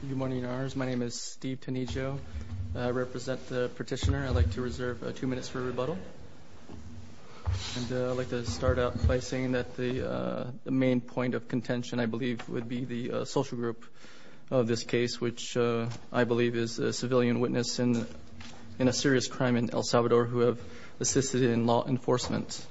Good morning ARs. My name is Steve Tenigio. I represent the petitioner. I'd like to reserve two minutes for rebuttal. I'd like to start out by saying that the main point of contention, I believe, would be the social group of this case, which I believe is a civilian witness in a serious crime in El Salvador who have assisted in law enforcement.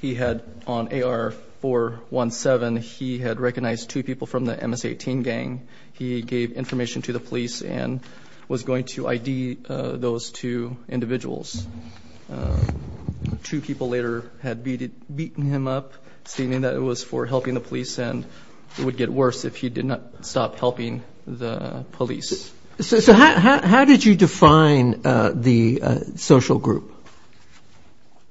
He had, on AR-417, he had recognized two people from the MS-18 gang. He gave information to the police and was going to ID those two individuals. Two people later had beaten him up, stating that it was for helping the police and it would get worse if he did not stop helping the police. So how did you define the social group?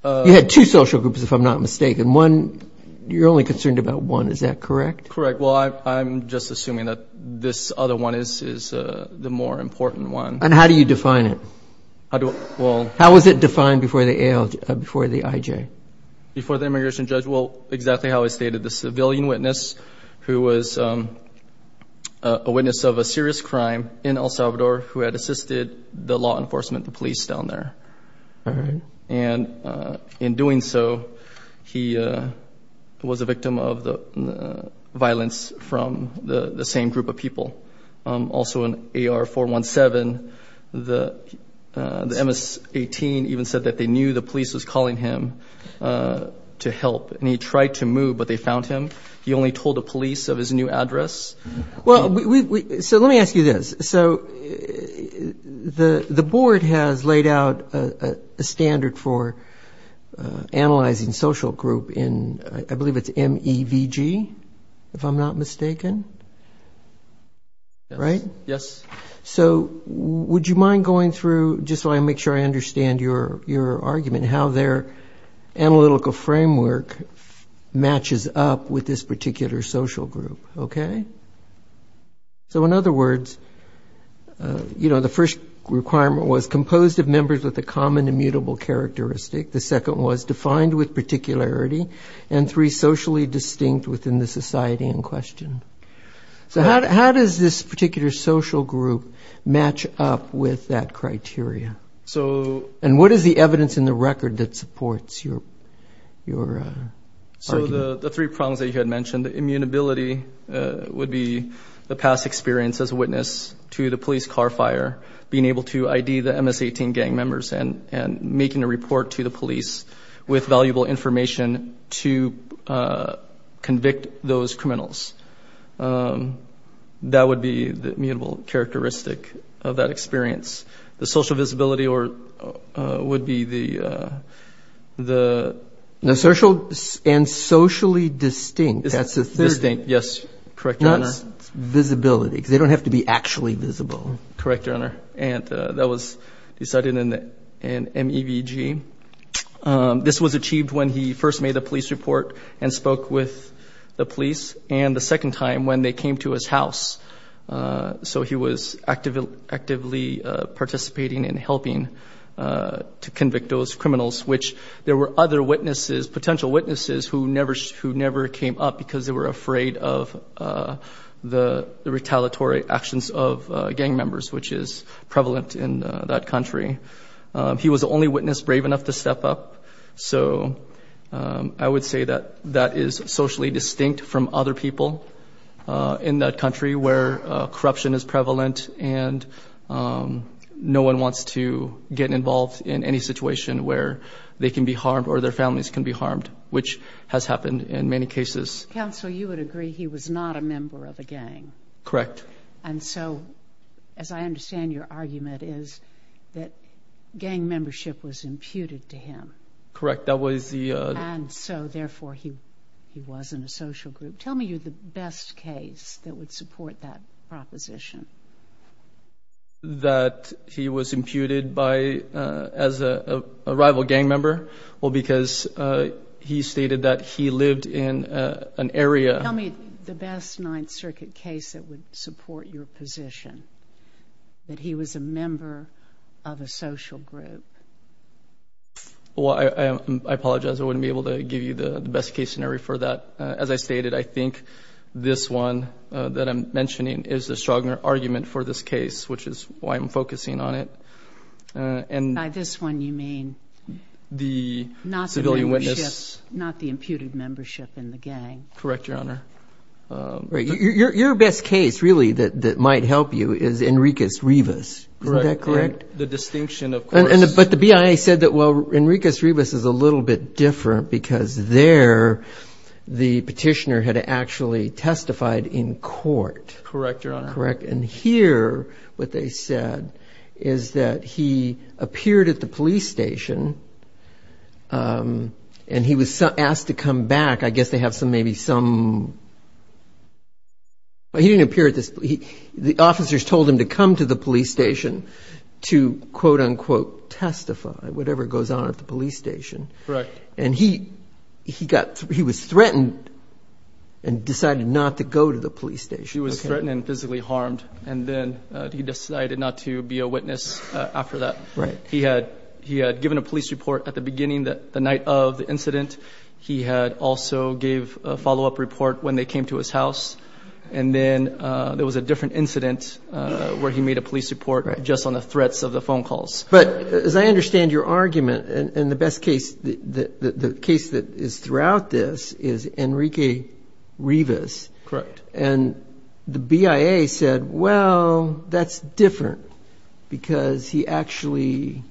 You had two social groups, if I'm not mistaken. One, you're only concerned about one, is that correct? Correct. Well, I'm just assuming that this other one is the more important one. And how do you define it? How was it defined before the IJ? Before the immigration judge? Well, exactly how I stated. The civilian witness, who was a witness of a serious crime in El Salvador, who had assisted the law enforcement, the police down there. And in doing so, he was a victim of the violence from the same group of people. Also in AR-417, the MS-18 even said that they knew the police was calling him to help. And he tried to move, but they found him. He only told the police of his new address. Well, so let me ask you this. So the board has laid out a standard for analyzing social group in, I believe it's MEVG, if I'm not mistaken? Yes. So would you mind going through, just so I make sure I understand your argument, how their analytical framework matches up with this particular social group? So in other words, the first requirement was composed of members with a common immutable characteristic. The second was defined with particularity. And three, socially distinct within the society in question. So how does this particular social group match up with that criteria? And what is the evidence in the record that supports your argument? So the three prongs that you had mentioned, the immutability would be the past experience as a witness to the police car fire, being able to ID the MS-18 gang members, and making a report to the police with valuable information to convict those criminals. That would be the immutable characteristic of that experience. The social visibility would be the... The social and socially distinct, that's the third. Distinct, yes. Correct, Your Honor. Not visibility, because they don't have to be actually visible. Correct, Your Honor. And that was decided in an MEVG. This was achieved when he first made the police report and spoke with the police, and the second time when they came to his house. So he was actively participating in helping to convict those criminals, which there were other witnesses, potential witnesses, who never came up because they were afraid of the retaliatory actions of gang members, which is prevalent in that country. He was the only witness brave enough to step up. So I would say that that is socially distinct from other people in that country, where corruption is prevalent and no one wants to get involved in any situation where they can be harmed or their families can be harmed, which has happened in many cases. Counsel, you would agree he was not a member of a gang. Correct. And so, as I understand, your argument is that gang membership was imputed to him. Correct. That was the... And so, therefore, he wasn't a social group. Tell me the best case that would support that proposition. That he was imputed as a rival gang member, well, because he stated that he lived in an area... Tell me the best Ninth Circuit case that would support your position, that he was a member of a social group. Well, I apologize. I wouldn't be able to give you the best case scenario for that. As I stated, I think this one that I'm mentioning is the stronger argument for this case, which is why I'm focusing on it. By this one, you mean not the imputed membership in the gang. Correct, Your Honor. Your best case, really, that might help you is Enriquez-Rivas. Correct. Isn't that correct? The distinction, of course. But the BIA said that, well, Enriquez-Rivas is a little bit different because there the petitioner had actually testified in court. Correct, Your Honor. Correct. And here what they said is that he appeared at the police station and he was asked to come back. I guess they have maybe some... He didn't appear at the police station. The officers told him to come to the police station to, quote, unquote, testify, whatever goes on at the police station. Correct. And he was threatened and decided not to go to the police station. He was threatened and physically harmed, and then he decided not to be a witness after that. Right. He had given a police report at the beginning, the night of the incident. He also gave a follow-up report when they came to his house, and then there was a different incident where he made a police report just on the threats of the phone calls. But as I understand your argument, and the best case, the case that is throughout this is Enriquez-Rivas. Correct. And the BIA said, well, that's different because he actually,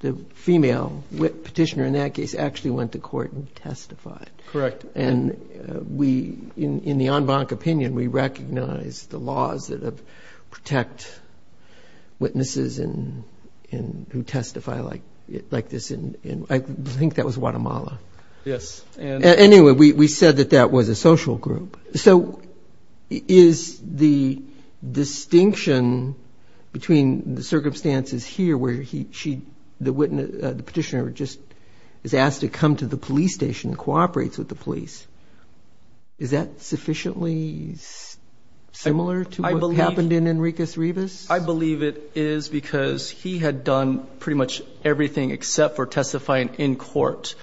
the female petitioner in that case actually went to court and testified. Correct. And in the en banc opinion, we recognize the laws that protect witnesses who testify like this. I think that was Guatemala. Yes. Anyway, we said that that was a social group. So is the distinction between the circumstances here where she, the petitioner just is asked to come to the police station and cooperates with the police, is that sufficiently similar to what happened in Enriquez-Rivas? I believe it is because he had done pretty much everything except for testifying in court.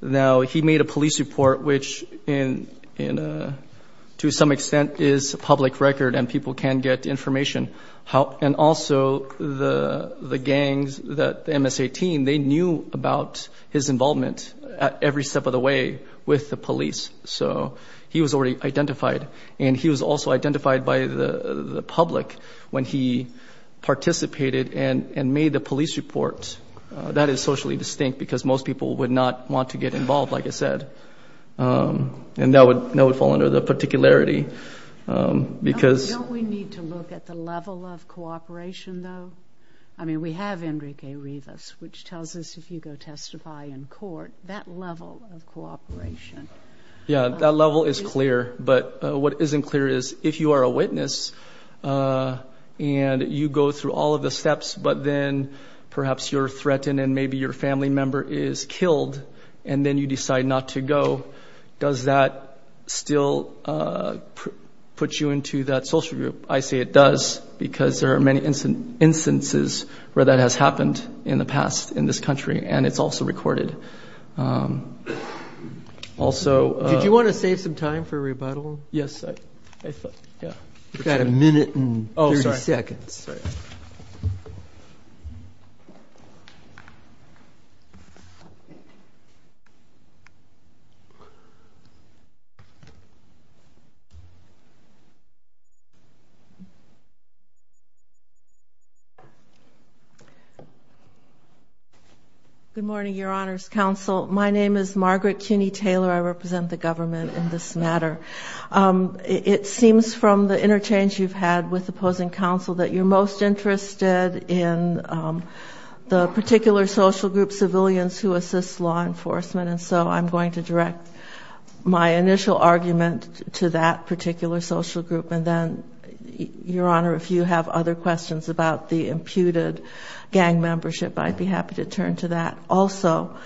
Now, he made a police report, which to some extent is a public record and people can get information. And also the gangs, the MSA team, they knew about his involvement at every step of the way with the police. So he was already identified. And he was also identified by the public when he participated and made the police report. That is socially distinct because most people would not want to get involved, like I said. And that would fall under the particularity. Don't we need to look at the level of cooperation, though? I mean, we have Enriquez-Rivas, which tells us if you go testify in court, that level of cooperation. Yeah, that level is clear. But what isn't clear is if you are a witness and you go through all of the steps, but then perhaps you're threatened and maybe your family member is killed and then you decide not to go, does that still put you into that social group? I say it does because there are many instances where that has happened in the past in this country. And it's also recorded. Did you want to save some time for rebuttal? Yes. We've got a minute and 30 seconds. Good morning, Your Honor's Counsel. My name is Margaret Cuney-Taylor. I represent the government in this matter. It seems from the interchange you've had with opposing counsel that you're most interested in the particular social group, civilians who assist law enforcement. And so I'm going to direct my initial argument to that particular social group and then, Your Honor, if you have other questions about the imputed gang membership, I'd be happy to turn to that also.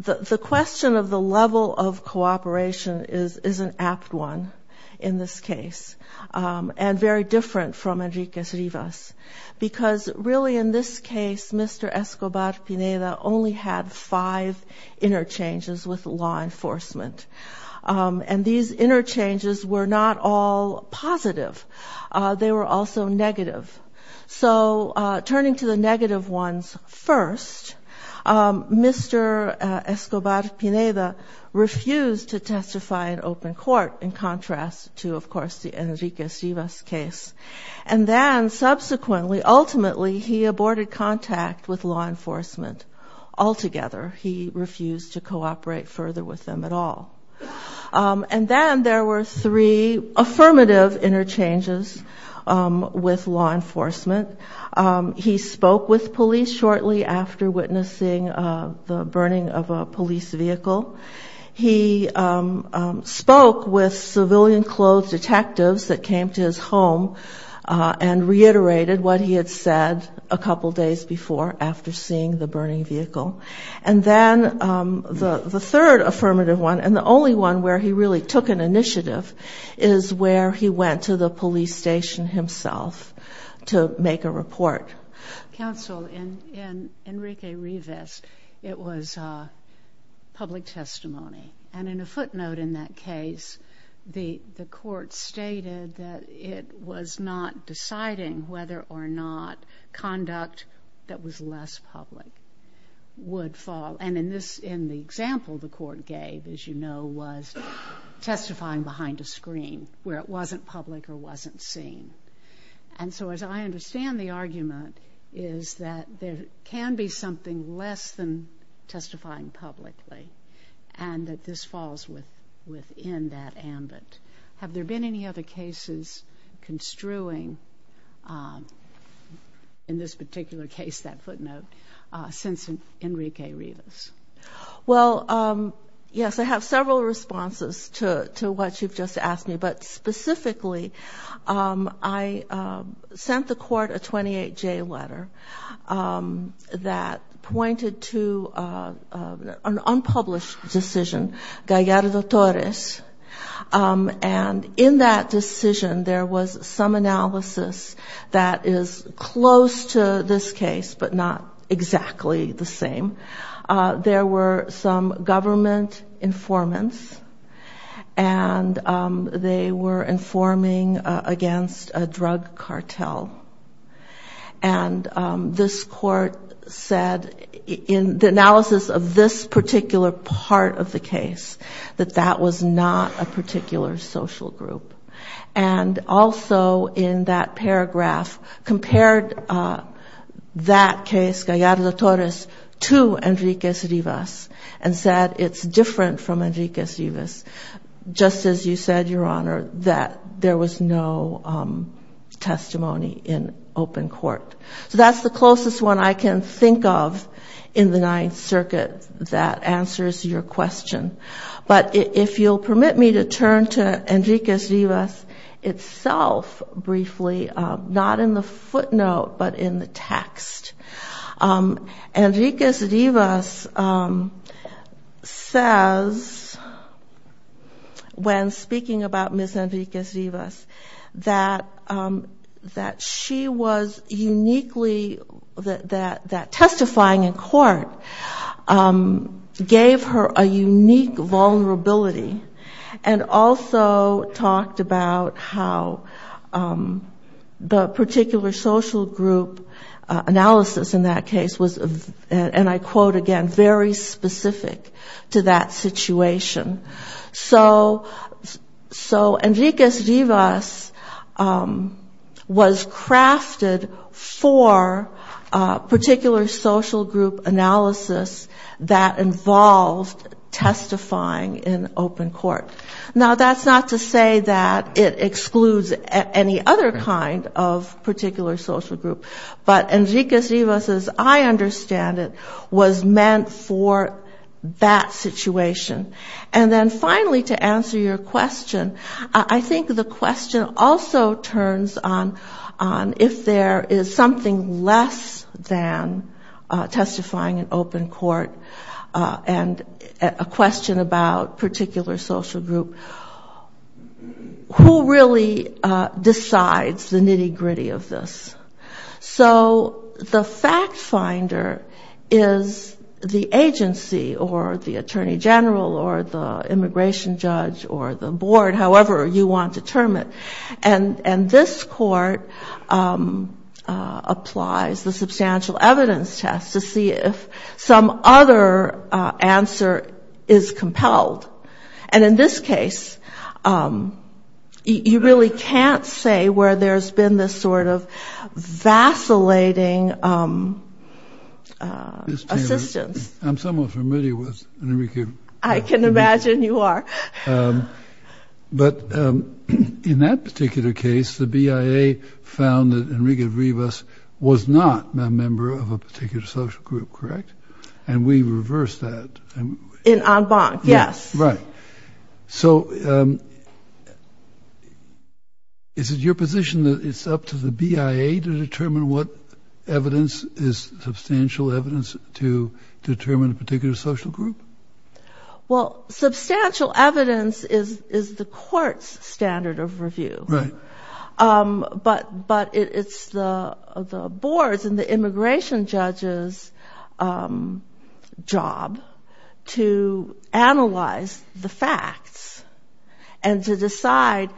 The question of the level of cooperation is an apt one in this case and very different from Enrique Rivas because, really, in this case, Mr. Escobar-Pineda only had five interchanges with law enforcement. And these interchanges were not all positive. They were also negative. So turning to the negative ones first, Mr. Escobar-Pineda refused to testify in open court in contrast to, of course, the Enrique Rivas case. And then subsequently, ultimately, he aborted contact with law enforcement altogether. He refused to cooperate further with them at all. And then there were three affirmative interchanges with law enforcement. He spoke with police shortly after witnessing the burning of a police vehicle. He spoke with civilian clothed detectives that came to his home and reiterated what he had said a couple days before after seeing the burning vehicle. And then the third affirmative one, and the only one where he really took an initiative, is where he went to the police station himself to make a report. Counsel, in Enrique Rivas, it was public testimony. And in a footnote in that case, the court stated that it was not deciding whether or not conduct that was less public would fall. And in the example the court gave, as you know, was testifying behind a screen where it wasn't public or wasn't seen. And so as I understand the argument is that there can be something less than testifying publicly and that this falls within that ambit. Have there been any other cases construing, in this particular case, that footnote, since Enrique Rivas? Well, yes, I have several responses to what you've just asked me. But specifically, I sent the court a 28-J letter that pointed to an unpublished decision, Gallardo-Torres. And in that decision, there was some analysis that is close to this case, but not exactly the same. There were some government informants, and they were informing against a drug cartel. And this court said, in the analysis of this particular part of the case, that that was not a particular social group. And also in that paragraph, compared that case, Gallardo-Torres, to Enrique Rivas, and said it's different from Enrique Rivas, just as you said, Your Honor, that there was no testimony in open court. So that's the closest one I can think of in the Ninth Circuit that answers your question. But if you'll permit me to turn to Enrique Rivas itself briefly, not in the footnote, but in the text. Enrique Rivas says, when speaking about Ms. Enrique Rivas, that she was uniquely, that testifying in court gave her a unique vulnerability, and also talked about how the particular social group analysis in that case was, and I quote again, very specific to that situation. So Enrique Rivas was crafted for particular social group analysis that involved testifying in open court. Now, that's not to say that it excludes any other kind of particular social group, but Enrique Rivas, as I understand it, was meant for that situation. And then finally, to answer your question, I think the question also turns on if there is something less than testifying in open court, and a question about particular social group. Who really decides the nitty gritty of this? So the fact finder is the agency, or the attorney general, or the immigration judge, or the board, however you want to term it. And this court applies the substantial evidence test to see if some other answer is compelled. And in this case, you really can't say where there's been this sort of vacillating assistance. I'm somewhat familiar with Enrique Rivas. I can imagine you are. But in that particular case, the BIA found that Enrique Rivas was not a member of a particular social group, correct? And we reversed that. So is it your position that it's up to the BIA to determine what evidence is substantial evidence to determine a particular social group? Well, substantial evidence is the court's standard of review. But it's the board's and the immigration judge's job to analyze the facts and to decide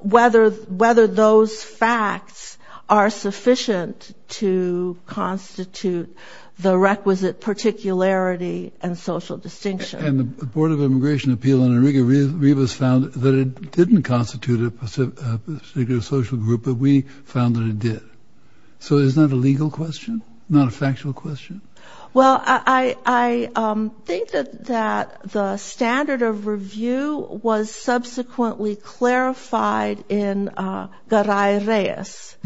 whether those facts are sufficient to constitute the requisite particularity and social distinction. And the Board of Immigration Appeal on Enrique Rivas found that it didn't constitute a particular social group, but we found that it did. So is that a legal question, not a factual question? Well, I think that the standard of review was subsequently clarified in Garay Reyes.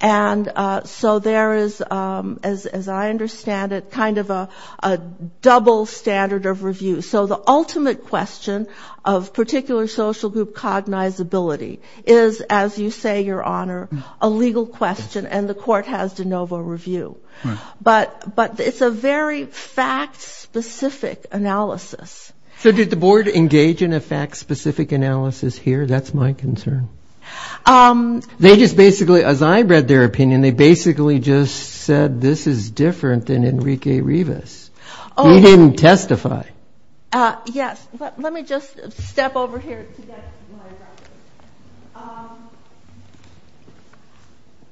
And so there is, as I understand it, kind of a double standard of review. So the ultimate question of particular social group cognizability is, as you say, Your Honor, a legal question, and the court has de novo review. But it's a very fact-specific analysis. So did the board engage in a fact-specific analysis here? That's my concern. They just basically, as I read their opinion, they basically just said this is different than Enrique Rivas. He didn't testify. Yes. Let me just step over here to get my reference.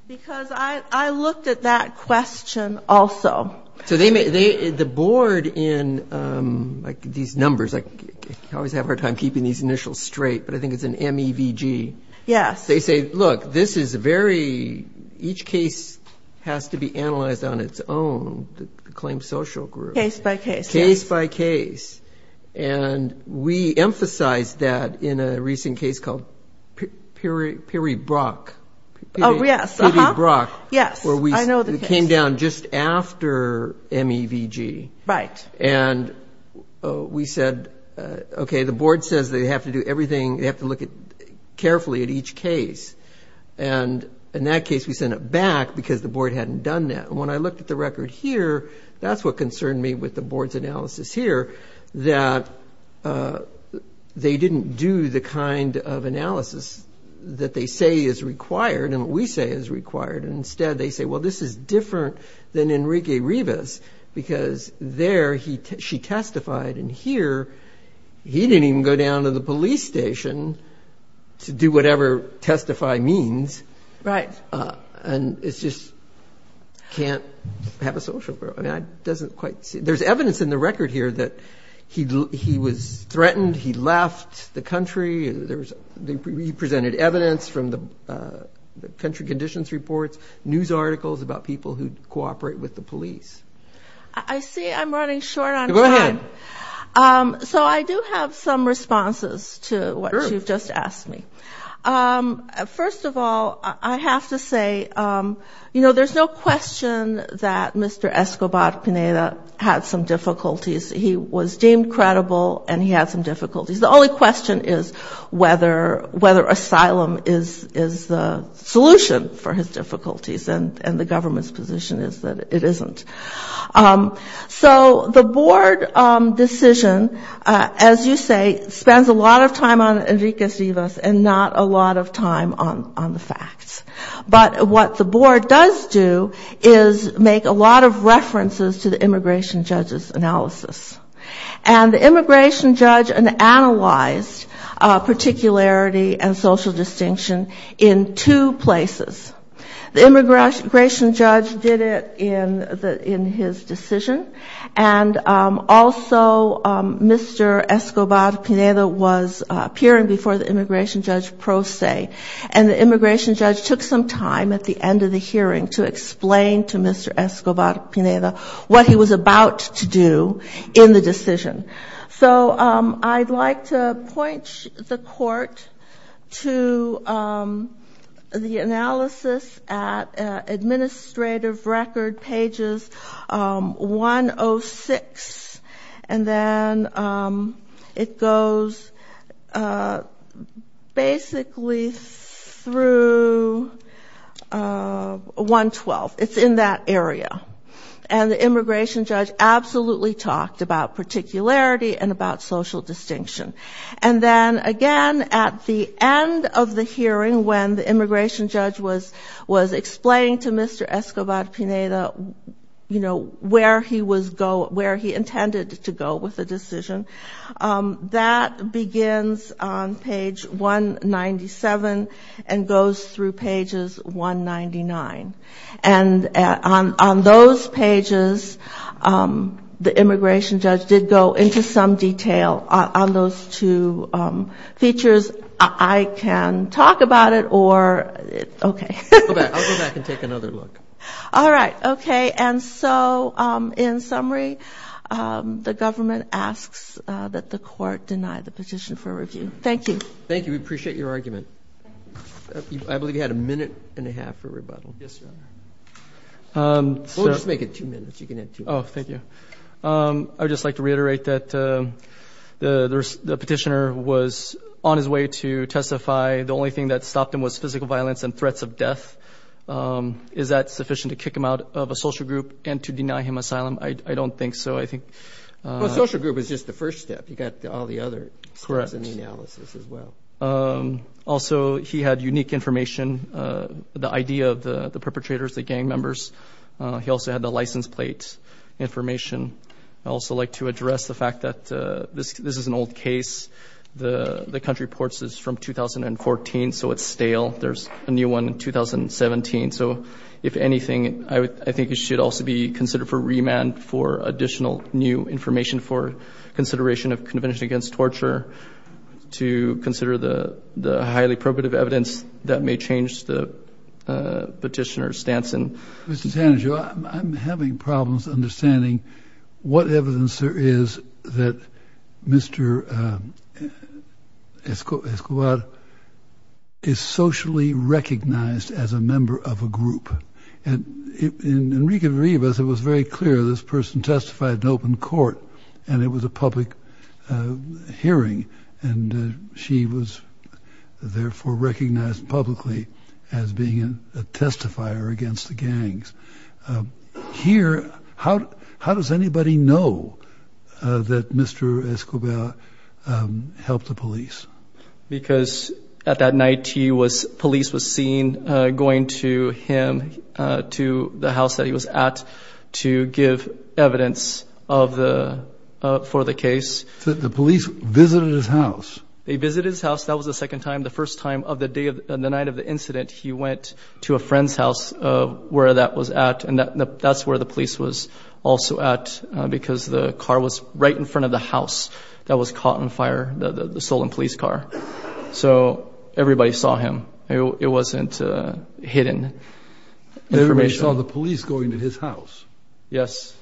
Because I looked at that question also. So the board in these numbers, I always have a hard time keeping these initials straight, but I think it's an MEVG. Yes. They say, look, this is very, each case has to be analyzed on its own, the claim social group. Case by case. Case by case. And we emphasized that in a recent case called Piri Brock. Oh, yes. Uh-huh. Piri Brock, where we came down just after MEVG. Right. And we said, okay, the board says they have to do everything, they have to look carefully at each case. And in that case, we sent it back because the board hadn't done that. And when I looked at the record here, that's what concerned me with the board's analysis here, that they didn't do the kind of analysis that they say is required and what we say is required. And instead they say, well, this is different than Enrique Rivas because there she testified and here he didn't even go down to the police station to do whatever testify means. Right. There's evidence in the record here that he was threatened, he left the country. He presented evidence from the country conditions reports, news articles about people who cooperate with the police. I see I'm running short on time. So I do have some responses to what you've just asked me. First of all, I have to say, you know, there's no question that Mr. Escobar-Pineda had some difficulties. He was deemed credible and he had some difficulties. The only question is whether asylum is the solution for his difficulties and the government's position is that it isn't. So the board decision, as you say, spends a lot of time on Enrique Rivas and not a lot of time on the facts. But what the board does do is make a lot of references to the immigration judge's analysis. And the immigration judge analyzed particularity and social distinction in two places. The immigration judge did it in his decision and also Mr. Escobar-Pineda was appearing before the immigration judge pro se and the immigration judge took some time at the end of the hearing to explain to Mr. Escobar-Pineda what he was about to do in the decision. So I'd like to point the court to the analysis at administrative record pages 106 and then it goes basically through 112. It's in that area. And the immigration judge absolutely talked about particularity and about social distinction. And then again at the end of the hearing when the immigration judge was explaining to Mr. Escobar-Pineda, you know, where he was going, where he intended to go with the decision, that begins on page 197 and goes through pages 199. And on those pages, the immigration judge did go into some detail on those two features. I can talk about it or, okay. All right, okay. And so in summary, the government asks that the court deny the petition for review. Thank you. We'll just make it two minutes. I would just like to reiterate that the petitioner was on his way to testify, the only thing that stopped him was physical violence and threats of death. Is that sufficient to kick him out of a social group and to deny him asylum? I don't think so, I think. Well, a social group is just the first step. You've got all the other steps in the analysis as well. Also, he had unique information, the idea of the perpetrators, the gang members. He also had the license plate information. I'd also like to address the fact that this is an old case. The country reports is from 2014, so it's stale. There's a new one in 2017. So, if anything, I think it should also be considered for remand for additional new information for consideration of Convention Against Torture to consider the highly probative evidence that may change the petitioner's stance. Mr. Sanagio, I'm having problems understanding what evidence there is that Mr. Escobar is socially recognized as a member of the gang, as a member of a group. In Enrique Rivas, it was very clear this person testified in open court, and it was a public hearing, and she was therefore recognized publicly as being a testifier against the gangs. Here, how does anybody know that Mr. Escobar helped the police? Because at that night, police was seen going to him, to the house that he was at, to give evidence for the case. The police visited his house? They visited his house. That was the second time. The first time of the night of the incident, he went to a friend's house where that was at, and that's where the police was also at, because the car was right in front of the house that was caught on fire, the stolen police car. So everybody saw him. It wasn't hidden information. Everybody saw the police going to his house? Yes.